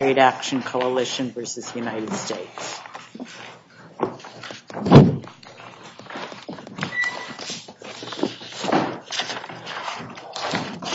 Trade Action Coalition v. United States Trade Action Coalition v. United States Trade Action Coalition v. United States Trade Action Coalition v. United States Trade Action Coalition v. United States Trade Action Coalition v. United States Trade Action Coalition v. United States Trade Action Coalition v. United States Trade Action Coalition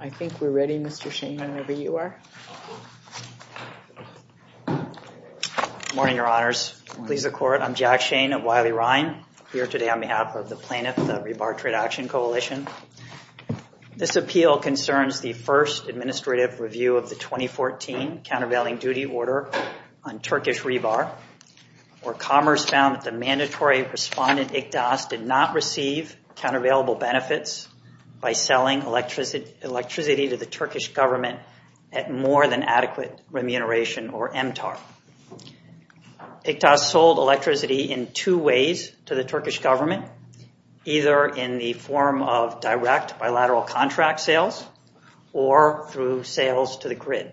I think we're ready, Mr. Shane, whenever you are. Morning, Your Honors. Please accord. I'm Jack Shane of Wiley-Rhein. Here today on behalf of the plaintiff, the Rebar Trade Action Coalition. This appeal concerns the first administrative review of the 2014 countervailing duty order on Turkish Rebar, where Commerce found that the mandatory respondent, ICTAS, did not receive countervailable benefits by selling electricity to the Turkish government at more than adequate remuneration, or MTAR. ICTAS sold electricity in two ways to the Turkish government, either in the form of direct bilateral contract sales or through sales to the grid.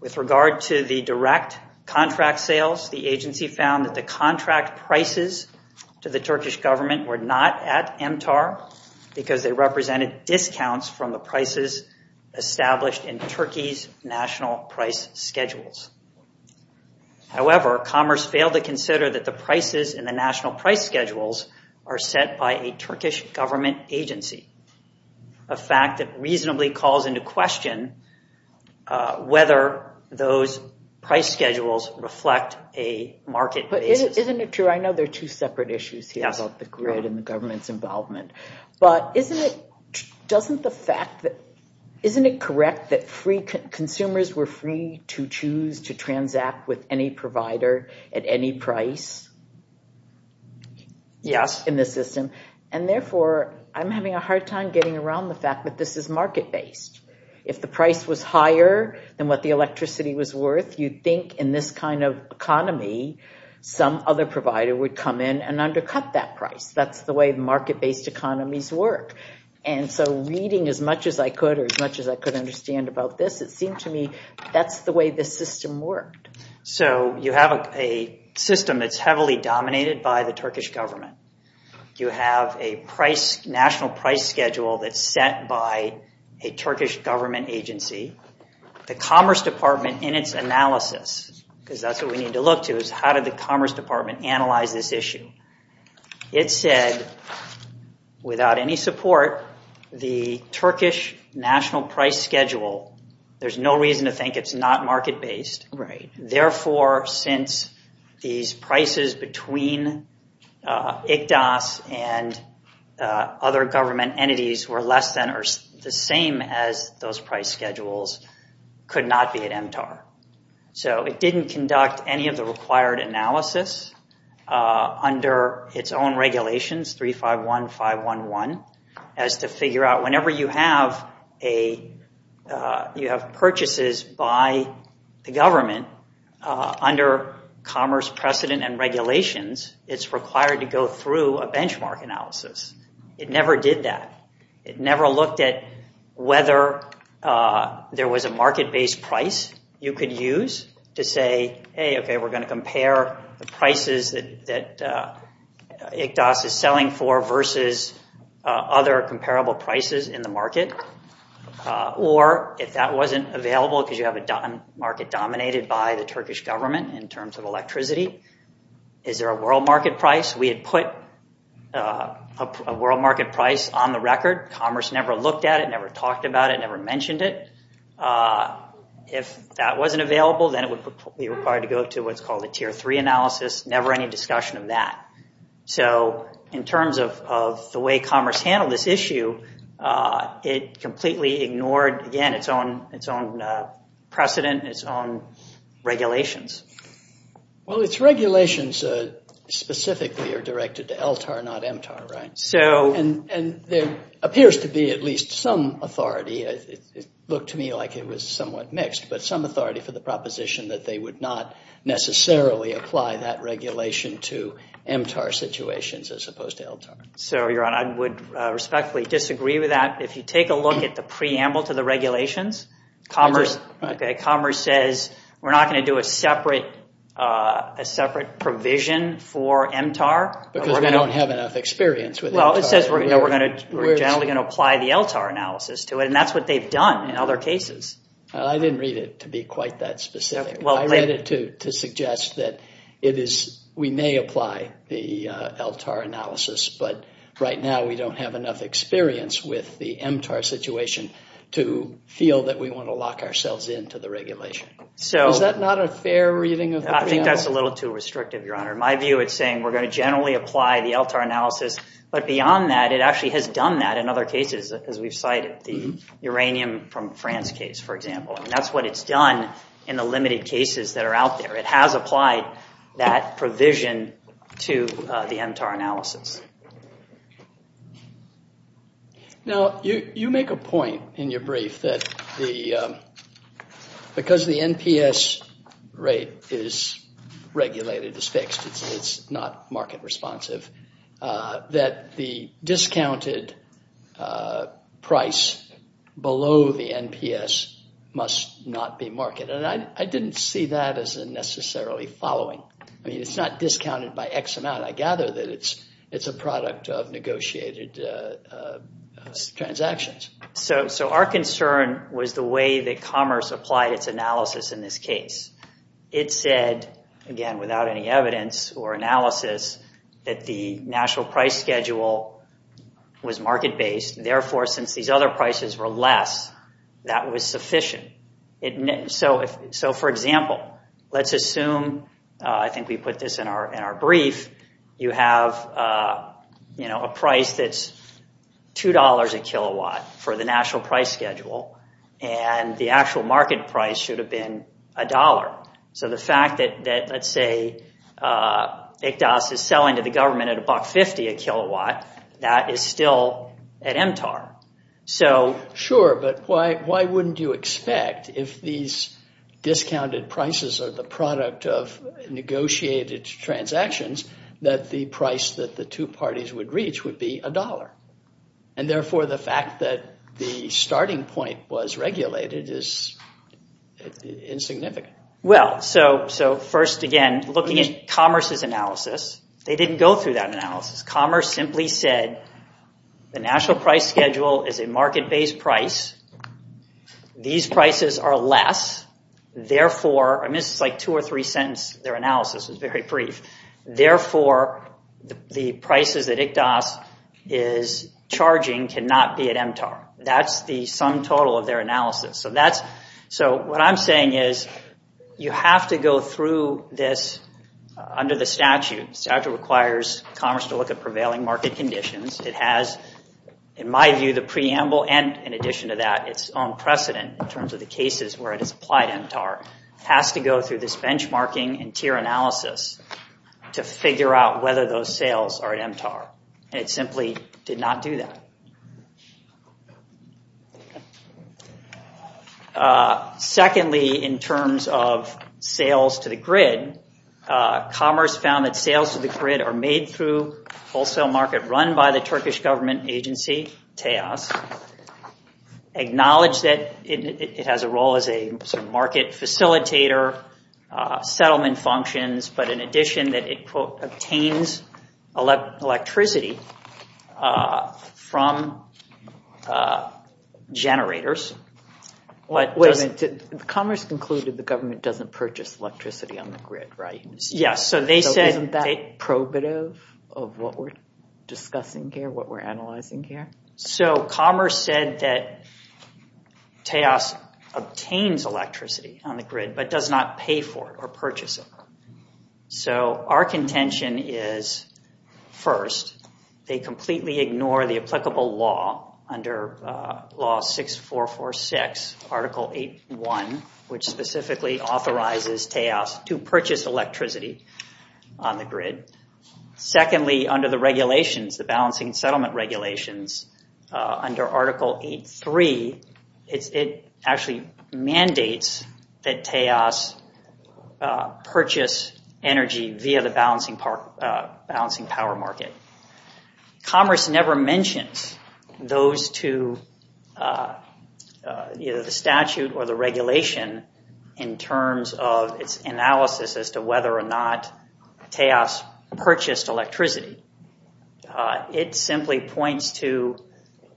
With regard to the direct contract sales, the agency found that the contract prices to the Turkish government were not at MTAR because they represented discounts from the prices established in Turkey's national price schedules. However, Commerce failed to consider that the prices in the national price schedules are set by a Turkish government agency, a fact that reasonably calls into question whether those price schedules reflect a market basis. Isn't it true? I know there are two separate issues here about the grid and the government's involvement. But isn't it correct that consumers were free to choose to transact with any provider at any price in the system? And therefore, I'm having a hard time getting around the fact that this is market based. If the price was higher than what the electricity was worth, you'd think in this kind of economy, some other provider would come in and undercut that price. That's the way market based economies work. And so reading as much as I could or as much as I could understand about this, it seemed to me that's the way the system worked. So you have a system that's heavily dominated by the Turkish government. You have a national price schedule that's set by a Turkish government agency. The Commerce Department in its analysis, because that's what we need to look to, is how did the Commerce Department analyze this issue? It said, without any support, the Turkish national price schedule, there's no reason to think it's not market based. Therefore, since these prices between ICDAS and other government entities were less than or the same as those price schedules, could not be at MTAR. So it didn't conduct any of the required analysis under its own regulations, 351511, as to figure out whenever you have purchases by the government under commerce precedent and regulations, it's required to go through a benchmark analysis. It never did that. It never looked at whether there was a market based price you could use to say, hey, okay, we're going to compare the prices that ICDAS is selling for versus other comparable prices in the market. Or if that wasn't available because you have a market dominated by the Turkish government in terms of electricity, is there a world market price? We had put a world market price on the record. Commerce never looked at it, never talked about it, never mentioned it. If that wasn't available, then it would be required to go to what's called a tier three analysis, never any discussion of that. So in terms of the way commerce handled this issue, it completely ignored, again, its own precedent, its own regulations. Well, its regulations specifically are directed to LTAR, not MTAR, right? And there appears to be at least some authority. It looked to me like it was somewhat mixed, but some authority for the proposition that they would not necessarily apply that regulation to MTAR situations as opposed to LTAR. So, Your Honor, I would respectfully disagree with that. If you take a look at the preamble to the regulations, commerce says we're not going to do a separate provision for MTAR. Because we don't have enough experience with MTAR. Well, it says we're generally going to apply the LTAR analysis to it, and that's what they've done in other cases. I didn't read it to be quite that specific. I read it to suggest that we may apply the LTAR analysis, but right now we don't have enough experience with the MTAR situation to feel that we want to lock ourselves into the regulation. Is that not a fair reading of the preamble? I think that's a little too restrictive, Your Honor. My view is saying we're going to generally apply the LTAR analysis, but beyond that, it actually has done that in other cases, as we've cited. The uranium from France case, for example. That's what it's done in the limited cases that are out there. It has applied that provision to the MTAR analysis. Now, you make a point in your brief that because the NPS rate is regulated, is fixed, it's not market responsive, that the discounted price below the NPS must not be marketed. I didn't see that as necessarily following. I mean, it's not discounted by X amount. I gather that it's a product of negotiated transactions. Our concern was the way that commerce applied its analysis in this case. It said, again, without any evidence or analysis, that the national price schedule was market-based. Therefore, since these other prices were less, that was sufficient. So, for example, let's assume, I think we put this in our brief, you have a price that's $2 a kilowatt for the national price schedule, and the actual market price should have been $1. So the fact that, let's say, ICDAS is selling to the government at $1.50 a kilowatt, that is still at MTAR. Sure, but why wouldn't you expect, if these discounted prices are the product of negotiated transactions, that the price that the two parties would reach would be $1? And therefore, the fact that the starting point was regulated is insignificant. Well, so first, again, looking at commerce's analysis, they didn't go through that analysis. Commerce simply said, the national price schedule is a market-based price, these prices are less, therefore, and this is like two or three sentences, their analysis is very brief, therefore, the prices that ICDAS is charging cannot be at MTAR. That's the sum total of their analysis. So what I'm saying is, you have to go through this under the statute. The statute requires commerce to look at prevailing market conditions. It has, in my view, the preamble and, in addition to that, its own precedent in terms of the cases where it is applied at MTAR. It has to go through this benchmarking and tier analysis to figure out whether those sales are at MTAR. And it simply did not do that. Secondly, in terms of sales to the grid, commerce found that sales to the grid are made through wholesale market run by the Turkish government agency, TEAS. Acknowledge that it has a role as a market facilitator, settlement functions, but in addition that it obtains electricity from generators. Wait a minute. Commerce concluded the government doesn't purchase electricity on the grid. Isn't that probative of what we're discussing here, what we're analyzing here? Commerce said that TEAS obtains electricity on the grid, but does not pay for it or purchase it. Our contention is, first, they completely ignore the applicable law under law 6446, Article 8.1, which specifically authorizes TEAS to purchase electricity on the grid. Secondly, under the regulations, the balancing settlement regulations, under Article 8.3, it actually mandates that TEAS purchase energy via the balancing power market. Commerce never mentions those to either the statute or the regulation in terms of its analysis as to whether or not TEAS purchased electricity. It simply points to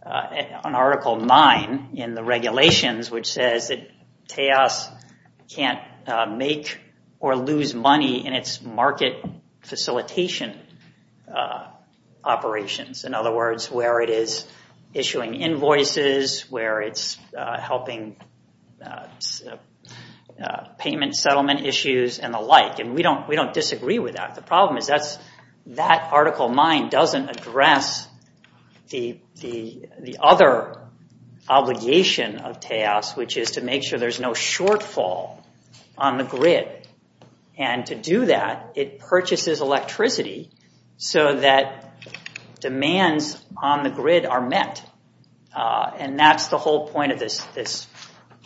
an Article 9 in the regulations, which says that TEAS can't make or lose money in its market facilitation operations. In other words, where it is issuing invoices, where it's helping payment settlement issues and the like. We don't disagree with that. The problem is that Article 9 doesn't address the other obligation of TEAS, which is to make sure there's no shortfall on the grid. To do that, it purchases electricity so that demands on the grid are met. That's the whole point of this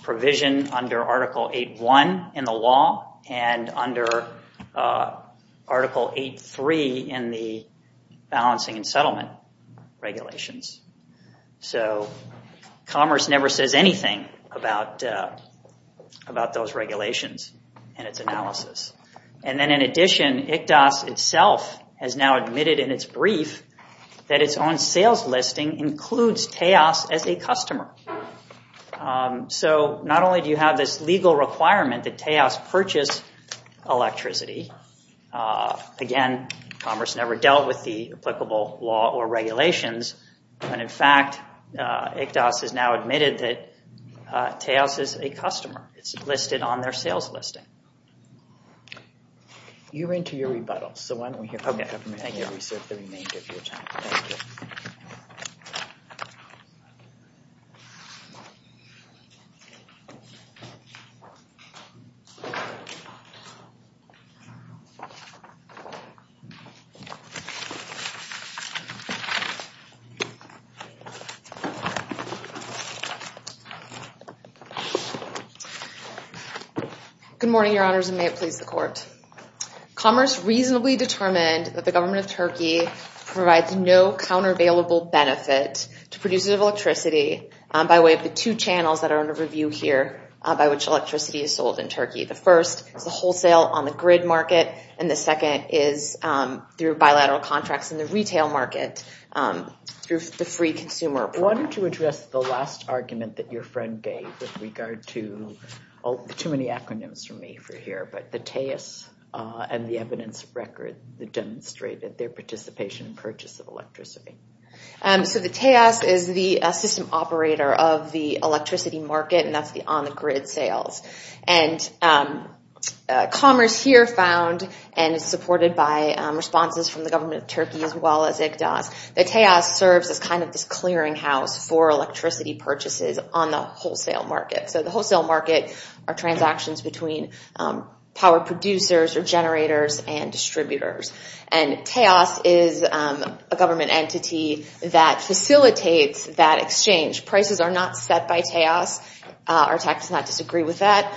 provision under Article 8.1 in the law and under Article 8.3 in the balancing and settlement regulations. Commerce never says anything about those regulations and its analysis. In addition, ICDAS itself has now admitted in its brief that its own sales listing includes TEAS as a customer. Not only do you have this legal requirement that TEAS purchase electricity. Again, commerce never dealt with the applicable law or regulations. In fact, ICDAS has now admitted that TEAS is a customer. It's listed on their sales listing. You're into your rebuttals, so why don't we hear from you. Okay, thank you. We serve the remainder of your time. Thank you. Good morning, Your Honors, and may it please the Court. Commerce reasonably determined that the government of Turkey provides no countervailable benefit to producers of electricity by way of the two channels that are under review here by which electricity is sold in Turkey. The first is the wholesale on the grid market, and the second is through bilateral contracts in the retail market through the free consumer. I wanted to address the last argument that your friend gave with regard to the TEAS and the evidence record that demonstrated their participation and purchase of electricity. The TEAS is the system operator of the electricity market, and that's the on the grid sales. Commerce here found and is supported by responses from the government of Turkey as well as ICDAS, the TEAS serves as kind of this clearinghouse for electricity purchases on the wholesale market. The wholesale market are transactions between power producers or generators and distributors, and TEAS is a government entity that facilitates that exchange. Prices are not set by TEAS. Our tax does not disagree with that.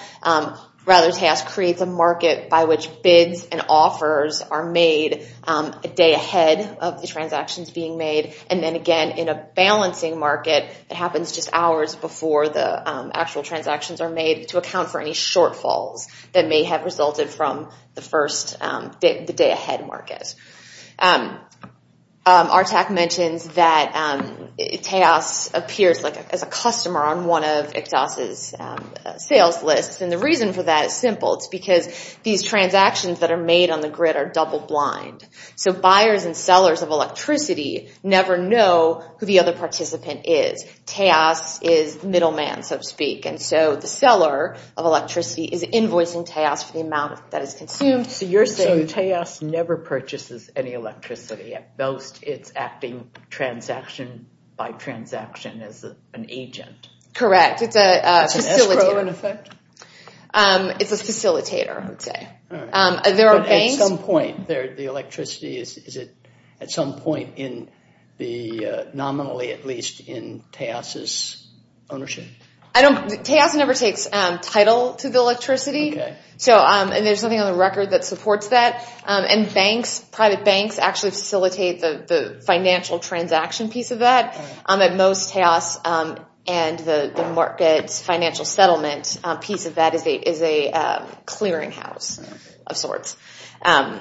Rather, TEAS creates a market by which bids and offers are made a day ahead of the transactions being made, and then again in a balancing market that happens just hours before the actual transactions are made to account for any shortfalls that may have resulted from the day ahead market. Our tax mentions that TEAS appears as a customer on one of ICDAS' sales lists, and the reason for that is simple. It's because these transactions that are made on the grid are double blind, so buyers and sellers of electricity never know who the other participant is. TEAS is middleman, so to speak, and so the seller of electricity is invoicing TEAS for the amount that is consumed. So you're saying TEAS never purchases any electricity. At most, it's acting transaction by transaction as an agent. Correct. It's a facilitator. It's an escrow in effect? It's a facilitator, I would say. All right. But at some point, the electricity is at some point nominally, at least in TEAS' ownership? TEAS never takes title to the electricity, and there's nothing on the record that supports that. And banks, private banks, actually facilitate the financial transaction piece of that. At most, TEAS and the market's financial settlement piece of that is a clearinghouse of sorts. And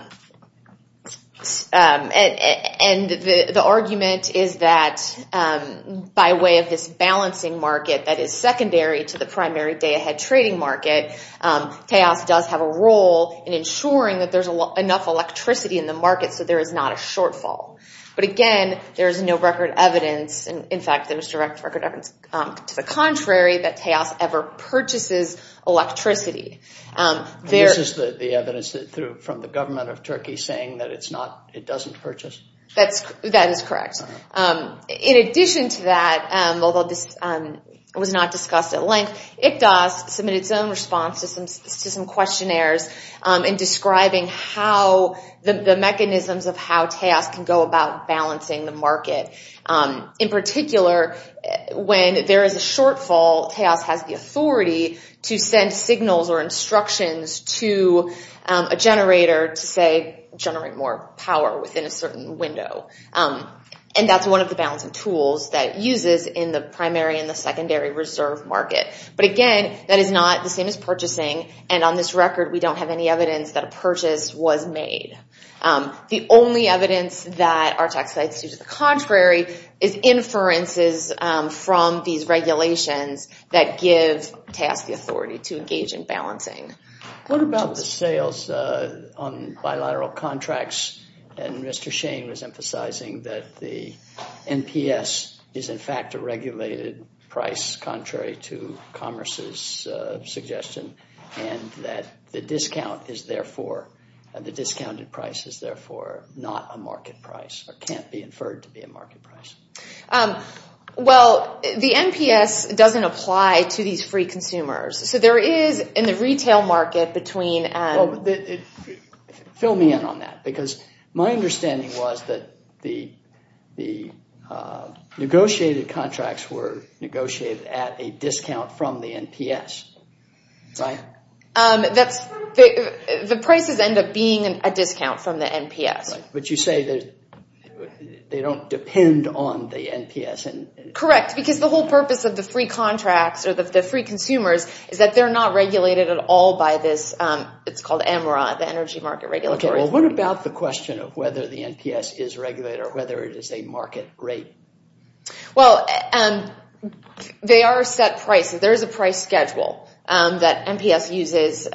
the argument is that by way of this balancing market that is secondary to the primary day-ahead trading market, TEAS does have a role in ensuring that there's enough electricity in the market so there is not a shortfall. But again, there is no record evidence, and in fact there's direct record evidence to the contrary, that TEAS ever purchases electricity. This is the evidence from the government of Turkey saying that it doesn't purchase? That is correct. In addition to that, although this was not discussed at length, ICDOS submitted its own response to some questionnaires in describing the mechanisms of how TEAS can go about balancing the market. In particular, when there is a shortfall, TEAS has the authority to send signals or instructions to a generator to say generate more power within a certain window. And that's one of the balancing tools that uses in the primary and the secondary reserve market. But again, that is not the same as purchasing, and on this record we don't have any evidence that a purchase was made. What we do have in the primary is inferences from these regulations that give TEAS the authority to engage in balancing. What about the sales on bilateral contracts? And Mr. Shane was emphasizing that the NPS is in fact a regulated price contrary to Commerce's suggestion, and that the discount is therefore, the discounted price is therefore not a market price or can't be inferred to be a market price. Well, the NPS doesn't apply to these free consumers, so there is in the retail market between... Fill me in on that, because my understanding was that the negotiated contracts were negotiated at a discount from the NPS, right? The prices end up being a discount from the NPS. But you say that they don't depend on the NPS. Correct, because the whole purpose of the free contracts or the free consumers is that they're not regulated at all by this, it's called EMRA, the Energy Market Regulator. Okay, well what about the question of whether the NPS is regulated or whether it is a market rate? Well, they are set prices. There is a price schedule that NPS uses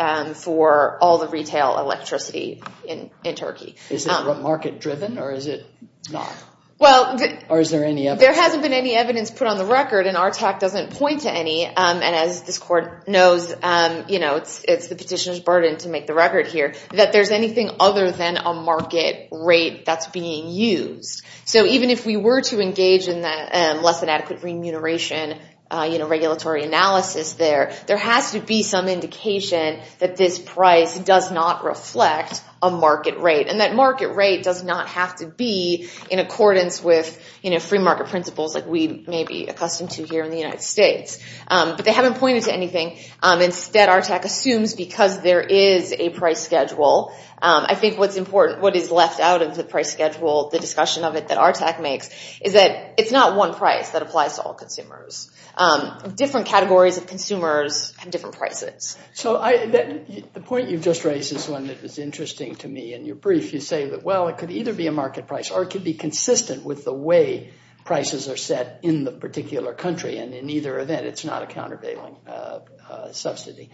for all the retail electricity in Turkey. Is it market driven or is it not? Or is there any evidence? There hasn't been any evidence put on the record, and our talk doesn't point to any, and as this court knows it's the petitioner's burden to make the record here, that there's anything other than a market rate that's being used. So even if we were to engage in that less than adequate remuneration regulatory analysis there, there has to be some indication that this price does not reflect a market rate. And that market rate does not have to be in accordance with free market principles like we may be accustomed to here in the United States. But they haven't pointed to anything. Instead, ARTEC assumes because there is a price schedule, I think what's important, what is left out of the price schedule, the discussion of it that ARTEC makes, is that it's not one price that applies to all consumers. Different categories of consumers have different prices. So the point you just raised is one that was interesting to me in your brief. You say that, well, it could either be a market price, or it could be consistent with the way prices are set in the particular country, and in either event, it's not a countervailing subsidy.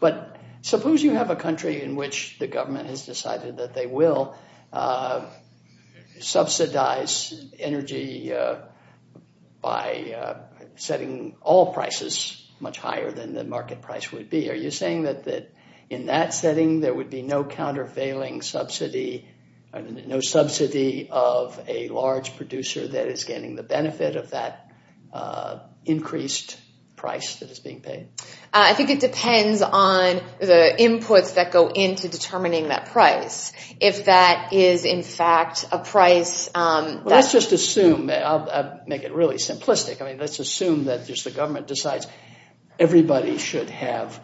But suppose you have a country in which the government has decided that they will subsidize energy by setting all prices much higher than the market price would be. Are you saying that in that setting, there would be no countervailing subsidy, no subsidy of a large producer that is getting the benefit of that increased price that is being paid? I think it depends on the inputs that go into determining that price. If that is, in fact, a price that's- Let's just assume. I'll make it really simplistic. Let's assume that just the government decides everybody should have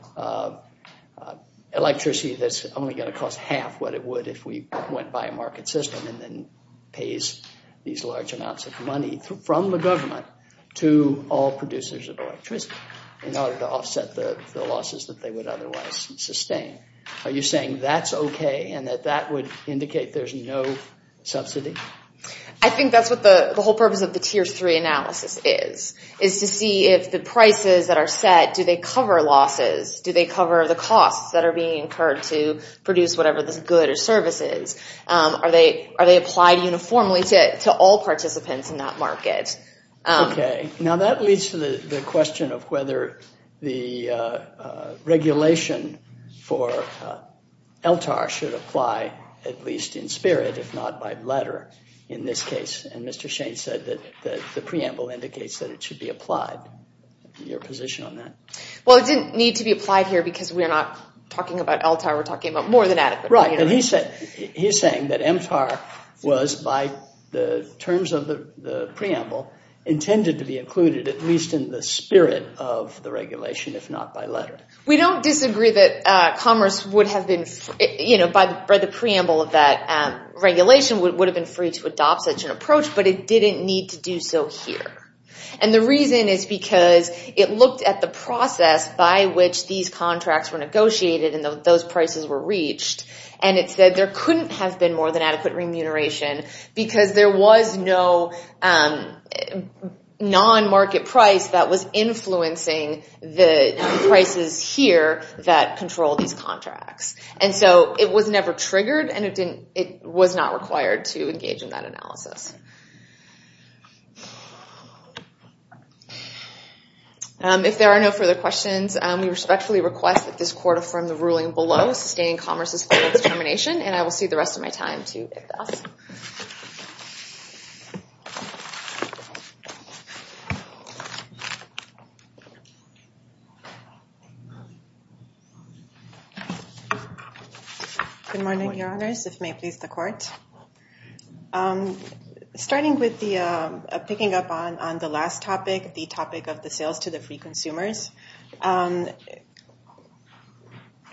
electricity that's only going to cost half what it would if we went by a market system and then pays these large amounts of money from the government to all producers of electricity in order to offset the losses that they would otherwise sustain. Are you saying that's okay and that that would indicate there's no subsidy? I think that's what the whole purpose of the Tier 3 analysis is, is to see if the prices that are set, do they cover losses? Do they cover the costs that are being incurred to produce whatever this good or service is? Are they applied uniformly to all participants in that market? Okay. Now, that leads to the question of whether the regulation for LTAR should apply, at least in spirit, if not by letter in this case. And Mr. Shane said that the preamble indicates that it should be applied. Your position on that? Well, it didn't need to be applied here because we're not talking about LTAR. We're talking about more than adequate. Right. And he's saying that MTAR was, by the terms of the preamble, intended to be included at least in the spirit of the regulation, if not by letter. We don't disagree that commerce would have been, you know, by the preamble of that regulation would have been free to adopt such an approach, but it didn't need to do so here. And the reason is because it looked at the process by which these contracts were negotiated and those prices were reached, and it said there couldn't have been more than adequate remuneration because there was no non-market price that was influencing the prices here that control these contracts. And so it was never triggered, and it was not required to engage in that analysis. If there are no further questions, we respectfully request that this court affirm the ruling below, sustaining commerce's final determination, and I will see the rest of my time to address. Good morning, Your Honors. If it may please the court. Starting with the picking up on the last topic, the topic of the sales to the free consumers,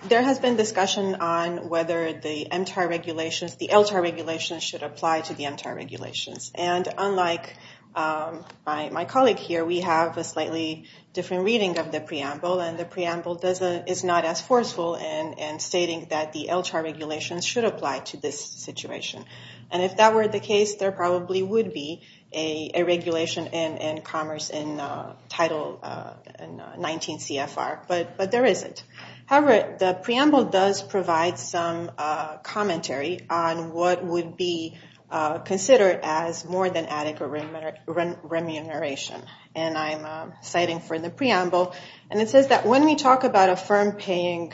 there has been discussion on whether the MTAR regulations, the LTAR regulations should apply to the MTAR regulations. And unlike my colleague here, we have a slightly different reading of the preamble, and the preamble is not as forceful in stating that the LTAR regulations should apply to this situation. And if that were the case, there probably would be a regulation in commerce in title, 19 CFR, but there isn't. However, the preamble does provide some commentary on what would be considered as more than adequate remuneration. And I'm citing for the preamble, and it says that when we talk about a firm paying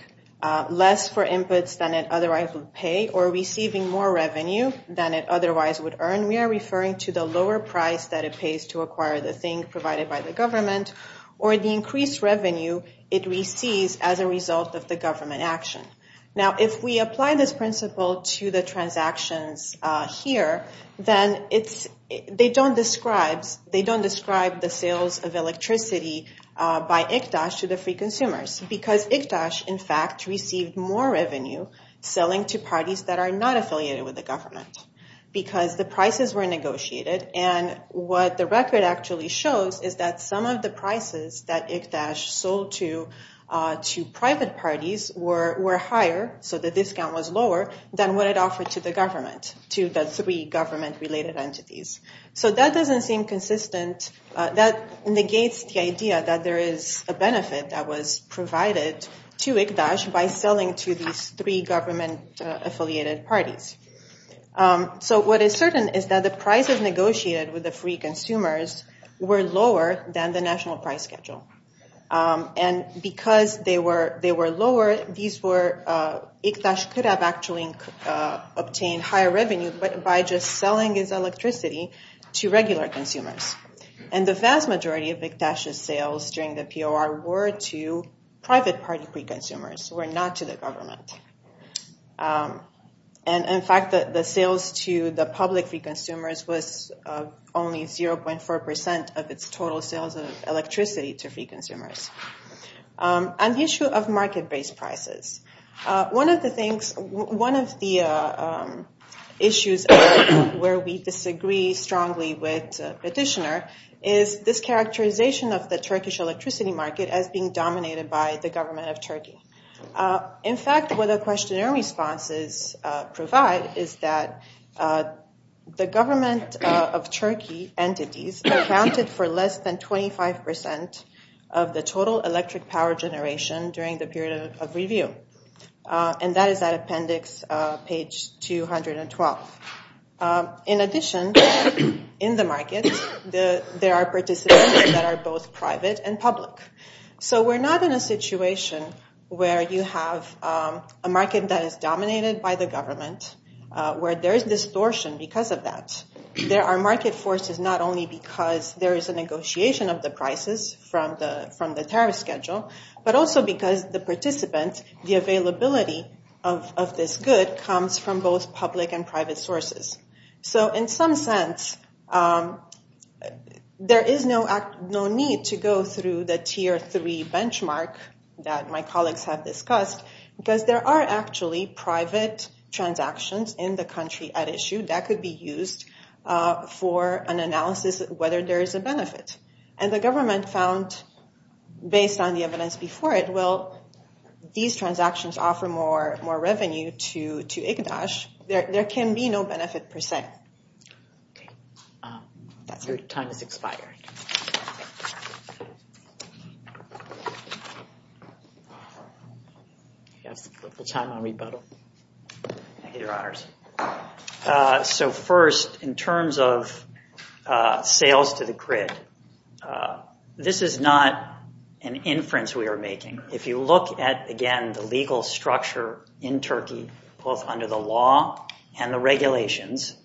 less for inputs than it otherwise would pay or receiving more revenue than it otherwise would earn, we are referring to the lower price that it pays to acquire the thing provided by the government or the increased revenue it receives as a result of the government action. Now, if we apply this principle to the transactions here, then they don't describe the sales of electricity by ICDAS to the free consumers because ICDAS, in fact, received more revenue selling to parties that are not affiliated with the government because the prices were negotiated. And what the record actually shows is that some of the prices that ICDAS sold to private parties were higher, so the discount was lower than what it offered to the government, to the three government-related entities. So that doesn't seem consistent. That negates the idea that there is a benefit that was provided to ICDAS by selling to these three government-affiliated parties. So what is certain is that the prices negotiated with the free consumers were lower than the national price schedule. And because they were lower, ICDAS could have actually obtained higher revenue by just selling its electricity to regular consumers. And the vast majority of ICDAS' sales during the POR were to private party free consumers, were not to the government. And in fact, the sales to the public free consumers was only 0.4% of its total sales of electricity to free consumers. On the issue of market-based prices, one of the things, one of the issues where we disagree strongly with Petitioner is this characterization of the Turkish electricity market as being dominated by the government of Turkey. In fact, what the questionnaire responses provide is that the government of Turkey entities accounted for less than 25% of the total electric power generation during the period of review. And that is at appendix page 212. In addition, in the market, there are participants that are both private and public. So we're not in a situation where you have a market that is dominated by the government, where there is distortion because of that. There are market forces not only because there is a negotiation of the prices from the tariff schedule, but also because the participants, the availability of this good comes from both public and private sources. So in some sense, there is no need to go through the tier three benchmark that my colleagues have discussed, because there are actually private transactions in the country at issue that could be used for an analysis of whether there is a benefit. And the government found, based on the evidence before it, well, these transactions offer more revenue to Igdaş. There can be no benefit per se. Okay. Your time has expired. So first, in terms of sales to the grid, this is not an inference we are making. If you look at, again, the legal structure in Turkey, both under the law and the regulations,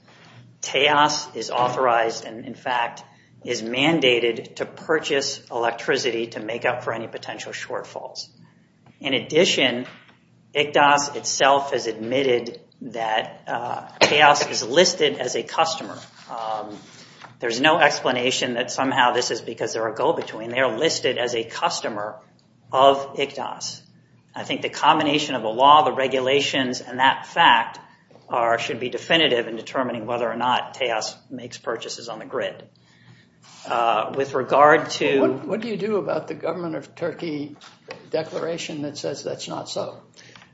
TEAS is authorized and, in fact, is mandated to purchase electricity to make up for any potential shortfalls. In addition, Igdaş itself has admitted that TEAS is listed as a customer. There is no explanation that somehow this is because they are a go-between. They are listed as a customer of Igdaş. I think the combination of the law, the regulations, and that fact should be definitive in determining whether or not TEAS makes purchases on the grid. With regard to... What do you do about the government of Turkey declaration that says that's not so?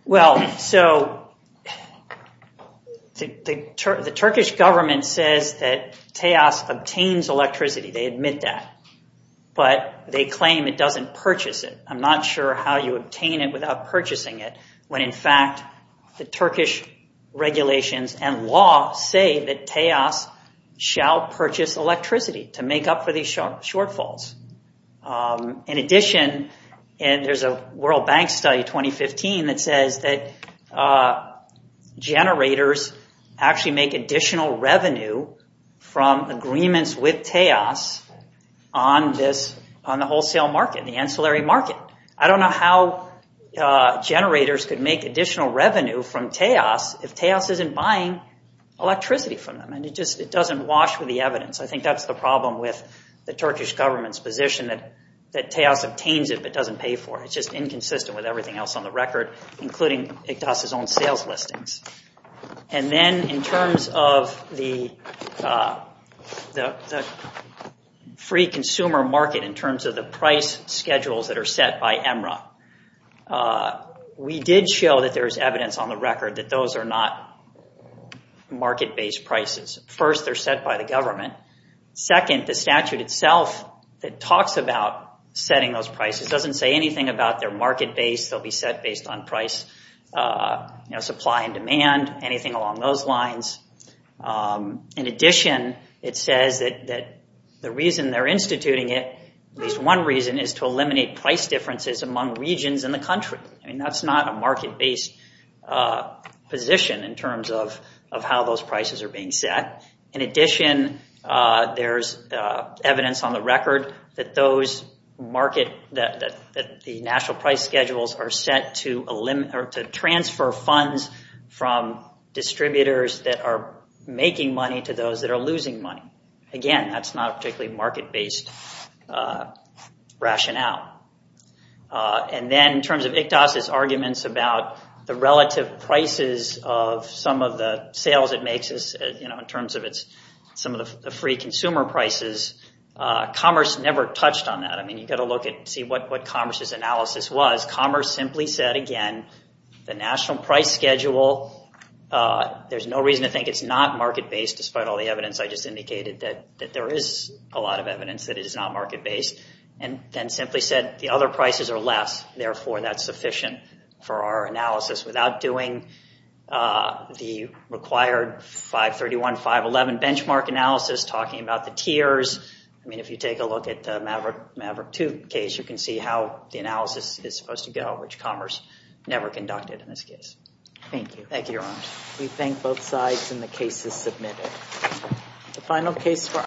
Well, so, the Turkish government says that TEAS obtains electricity. They admit that. But they claim it doesn't purchase it. I'm not sure how you obtain it without purchasing it when, in fact, the Turkish regulations and law say that TEAS shall purchase electricity to make up for these shortfalls. In addition, and there's a World Bank study, 2015, that says that generators actually make additional revenue from agreements with TEAS on the wholesale market, the ancillary market. I don't know how they make revenue from TEAS if TEAS isn't buying electricity from them. It doesn't wash with the evidence. I think that's the problem with the Turkish government's position that TEAS obtains it but doesn't pay for it. It's just inconsistent with everything else on the record, including Igdaş's own sales listings. And then in terms of the free consumer market in terms of the price schedules that are set by EMRA, we did show that there's evidence on the record that those are not market-based prices. First, they're set by the government. Second, the statute itself that talks about setting those prices doesn't say anything about their market base. They'll be set based on price, supply and demand, anything along those lines. In addition, it says that the reason they're instituting it, at least one reason, is to eliminate price differences among regions in the country. That's not a market-based position in terms of how those prices are being set. In addition, there's evidence on the record that the national price schedules are set to transfer funds from distributors that are making money to those that are losing money. Again, that's not a particularly market-based rationale. Then, in terms of ICDAS's arguments about the relative prices of some of the sales it makes in terms of some of the free consumer prices, Commerce never touched on that. You've got to look and see what Commerce's analysis was. Commerce simply said, again, the national price schedule, there's no reason to think it's not market-based despite all the evidence I just indicated that there is a lot of evidence that it is not market-based, and then simply said, the other prices are less, therefore, that's sufficient for our analysis without doing the required 531, 511 benchmark analysis, talking about the tiers. I mean, if you take a look at the Maverick II case, you can see how the analysis is supposed to go, which Commerce never conducted in this case. Thank you. Thank you, Your Honor. We thank both sides, and the case is submitted. The final case for our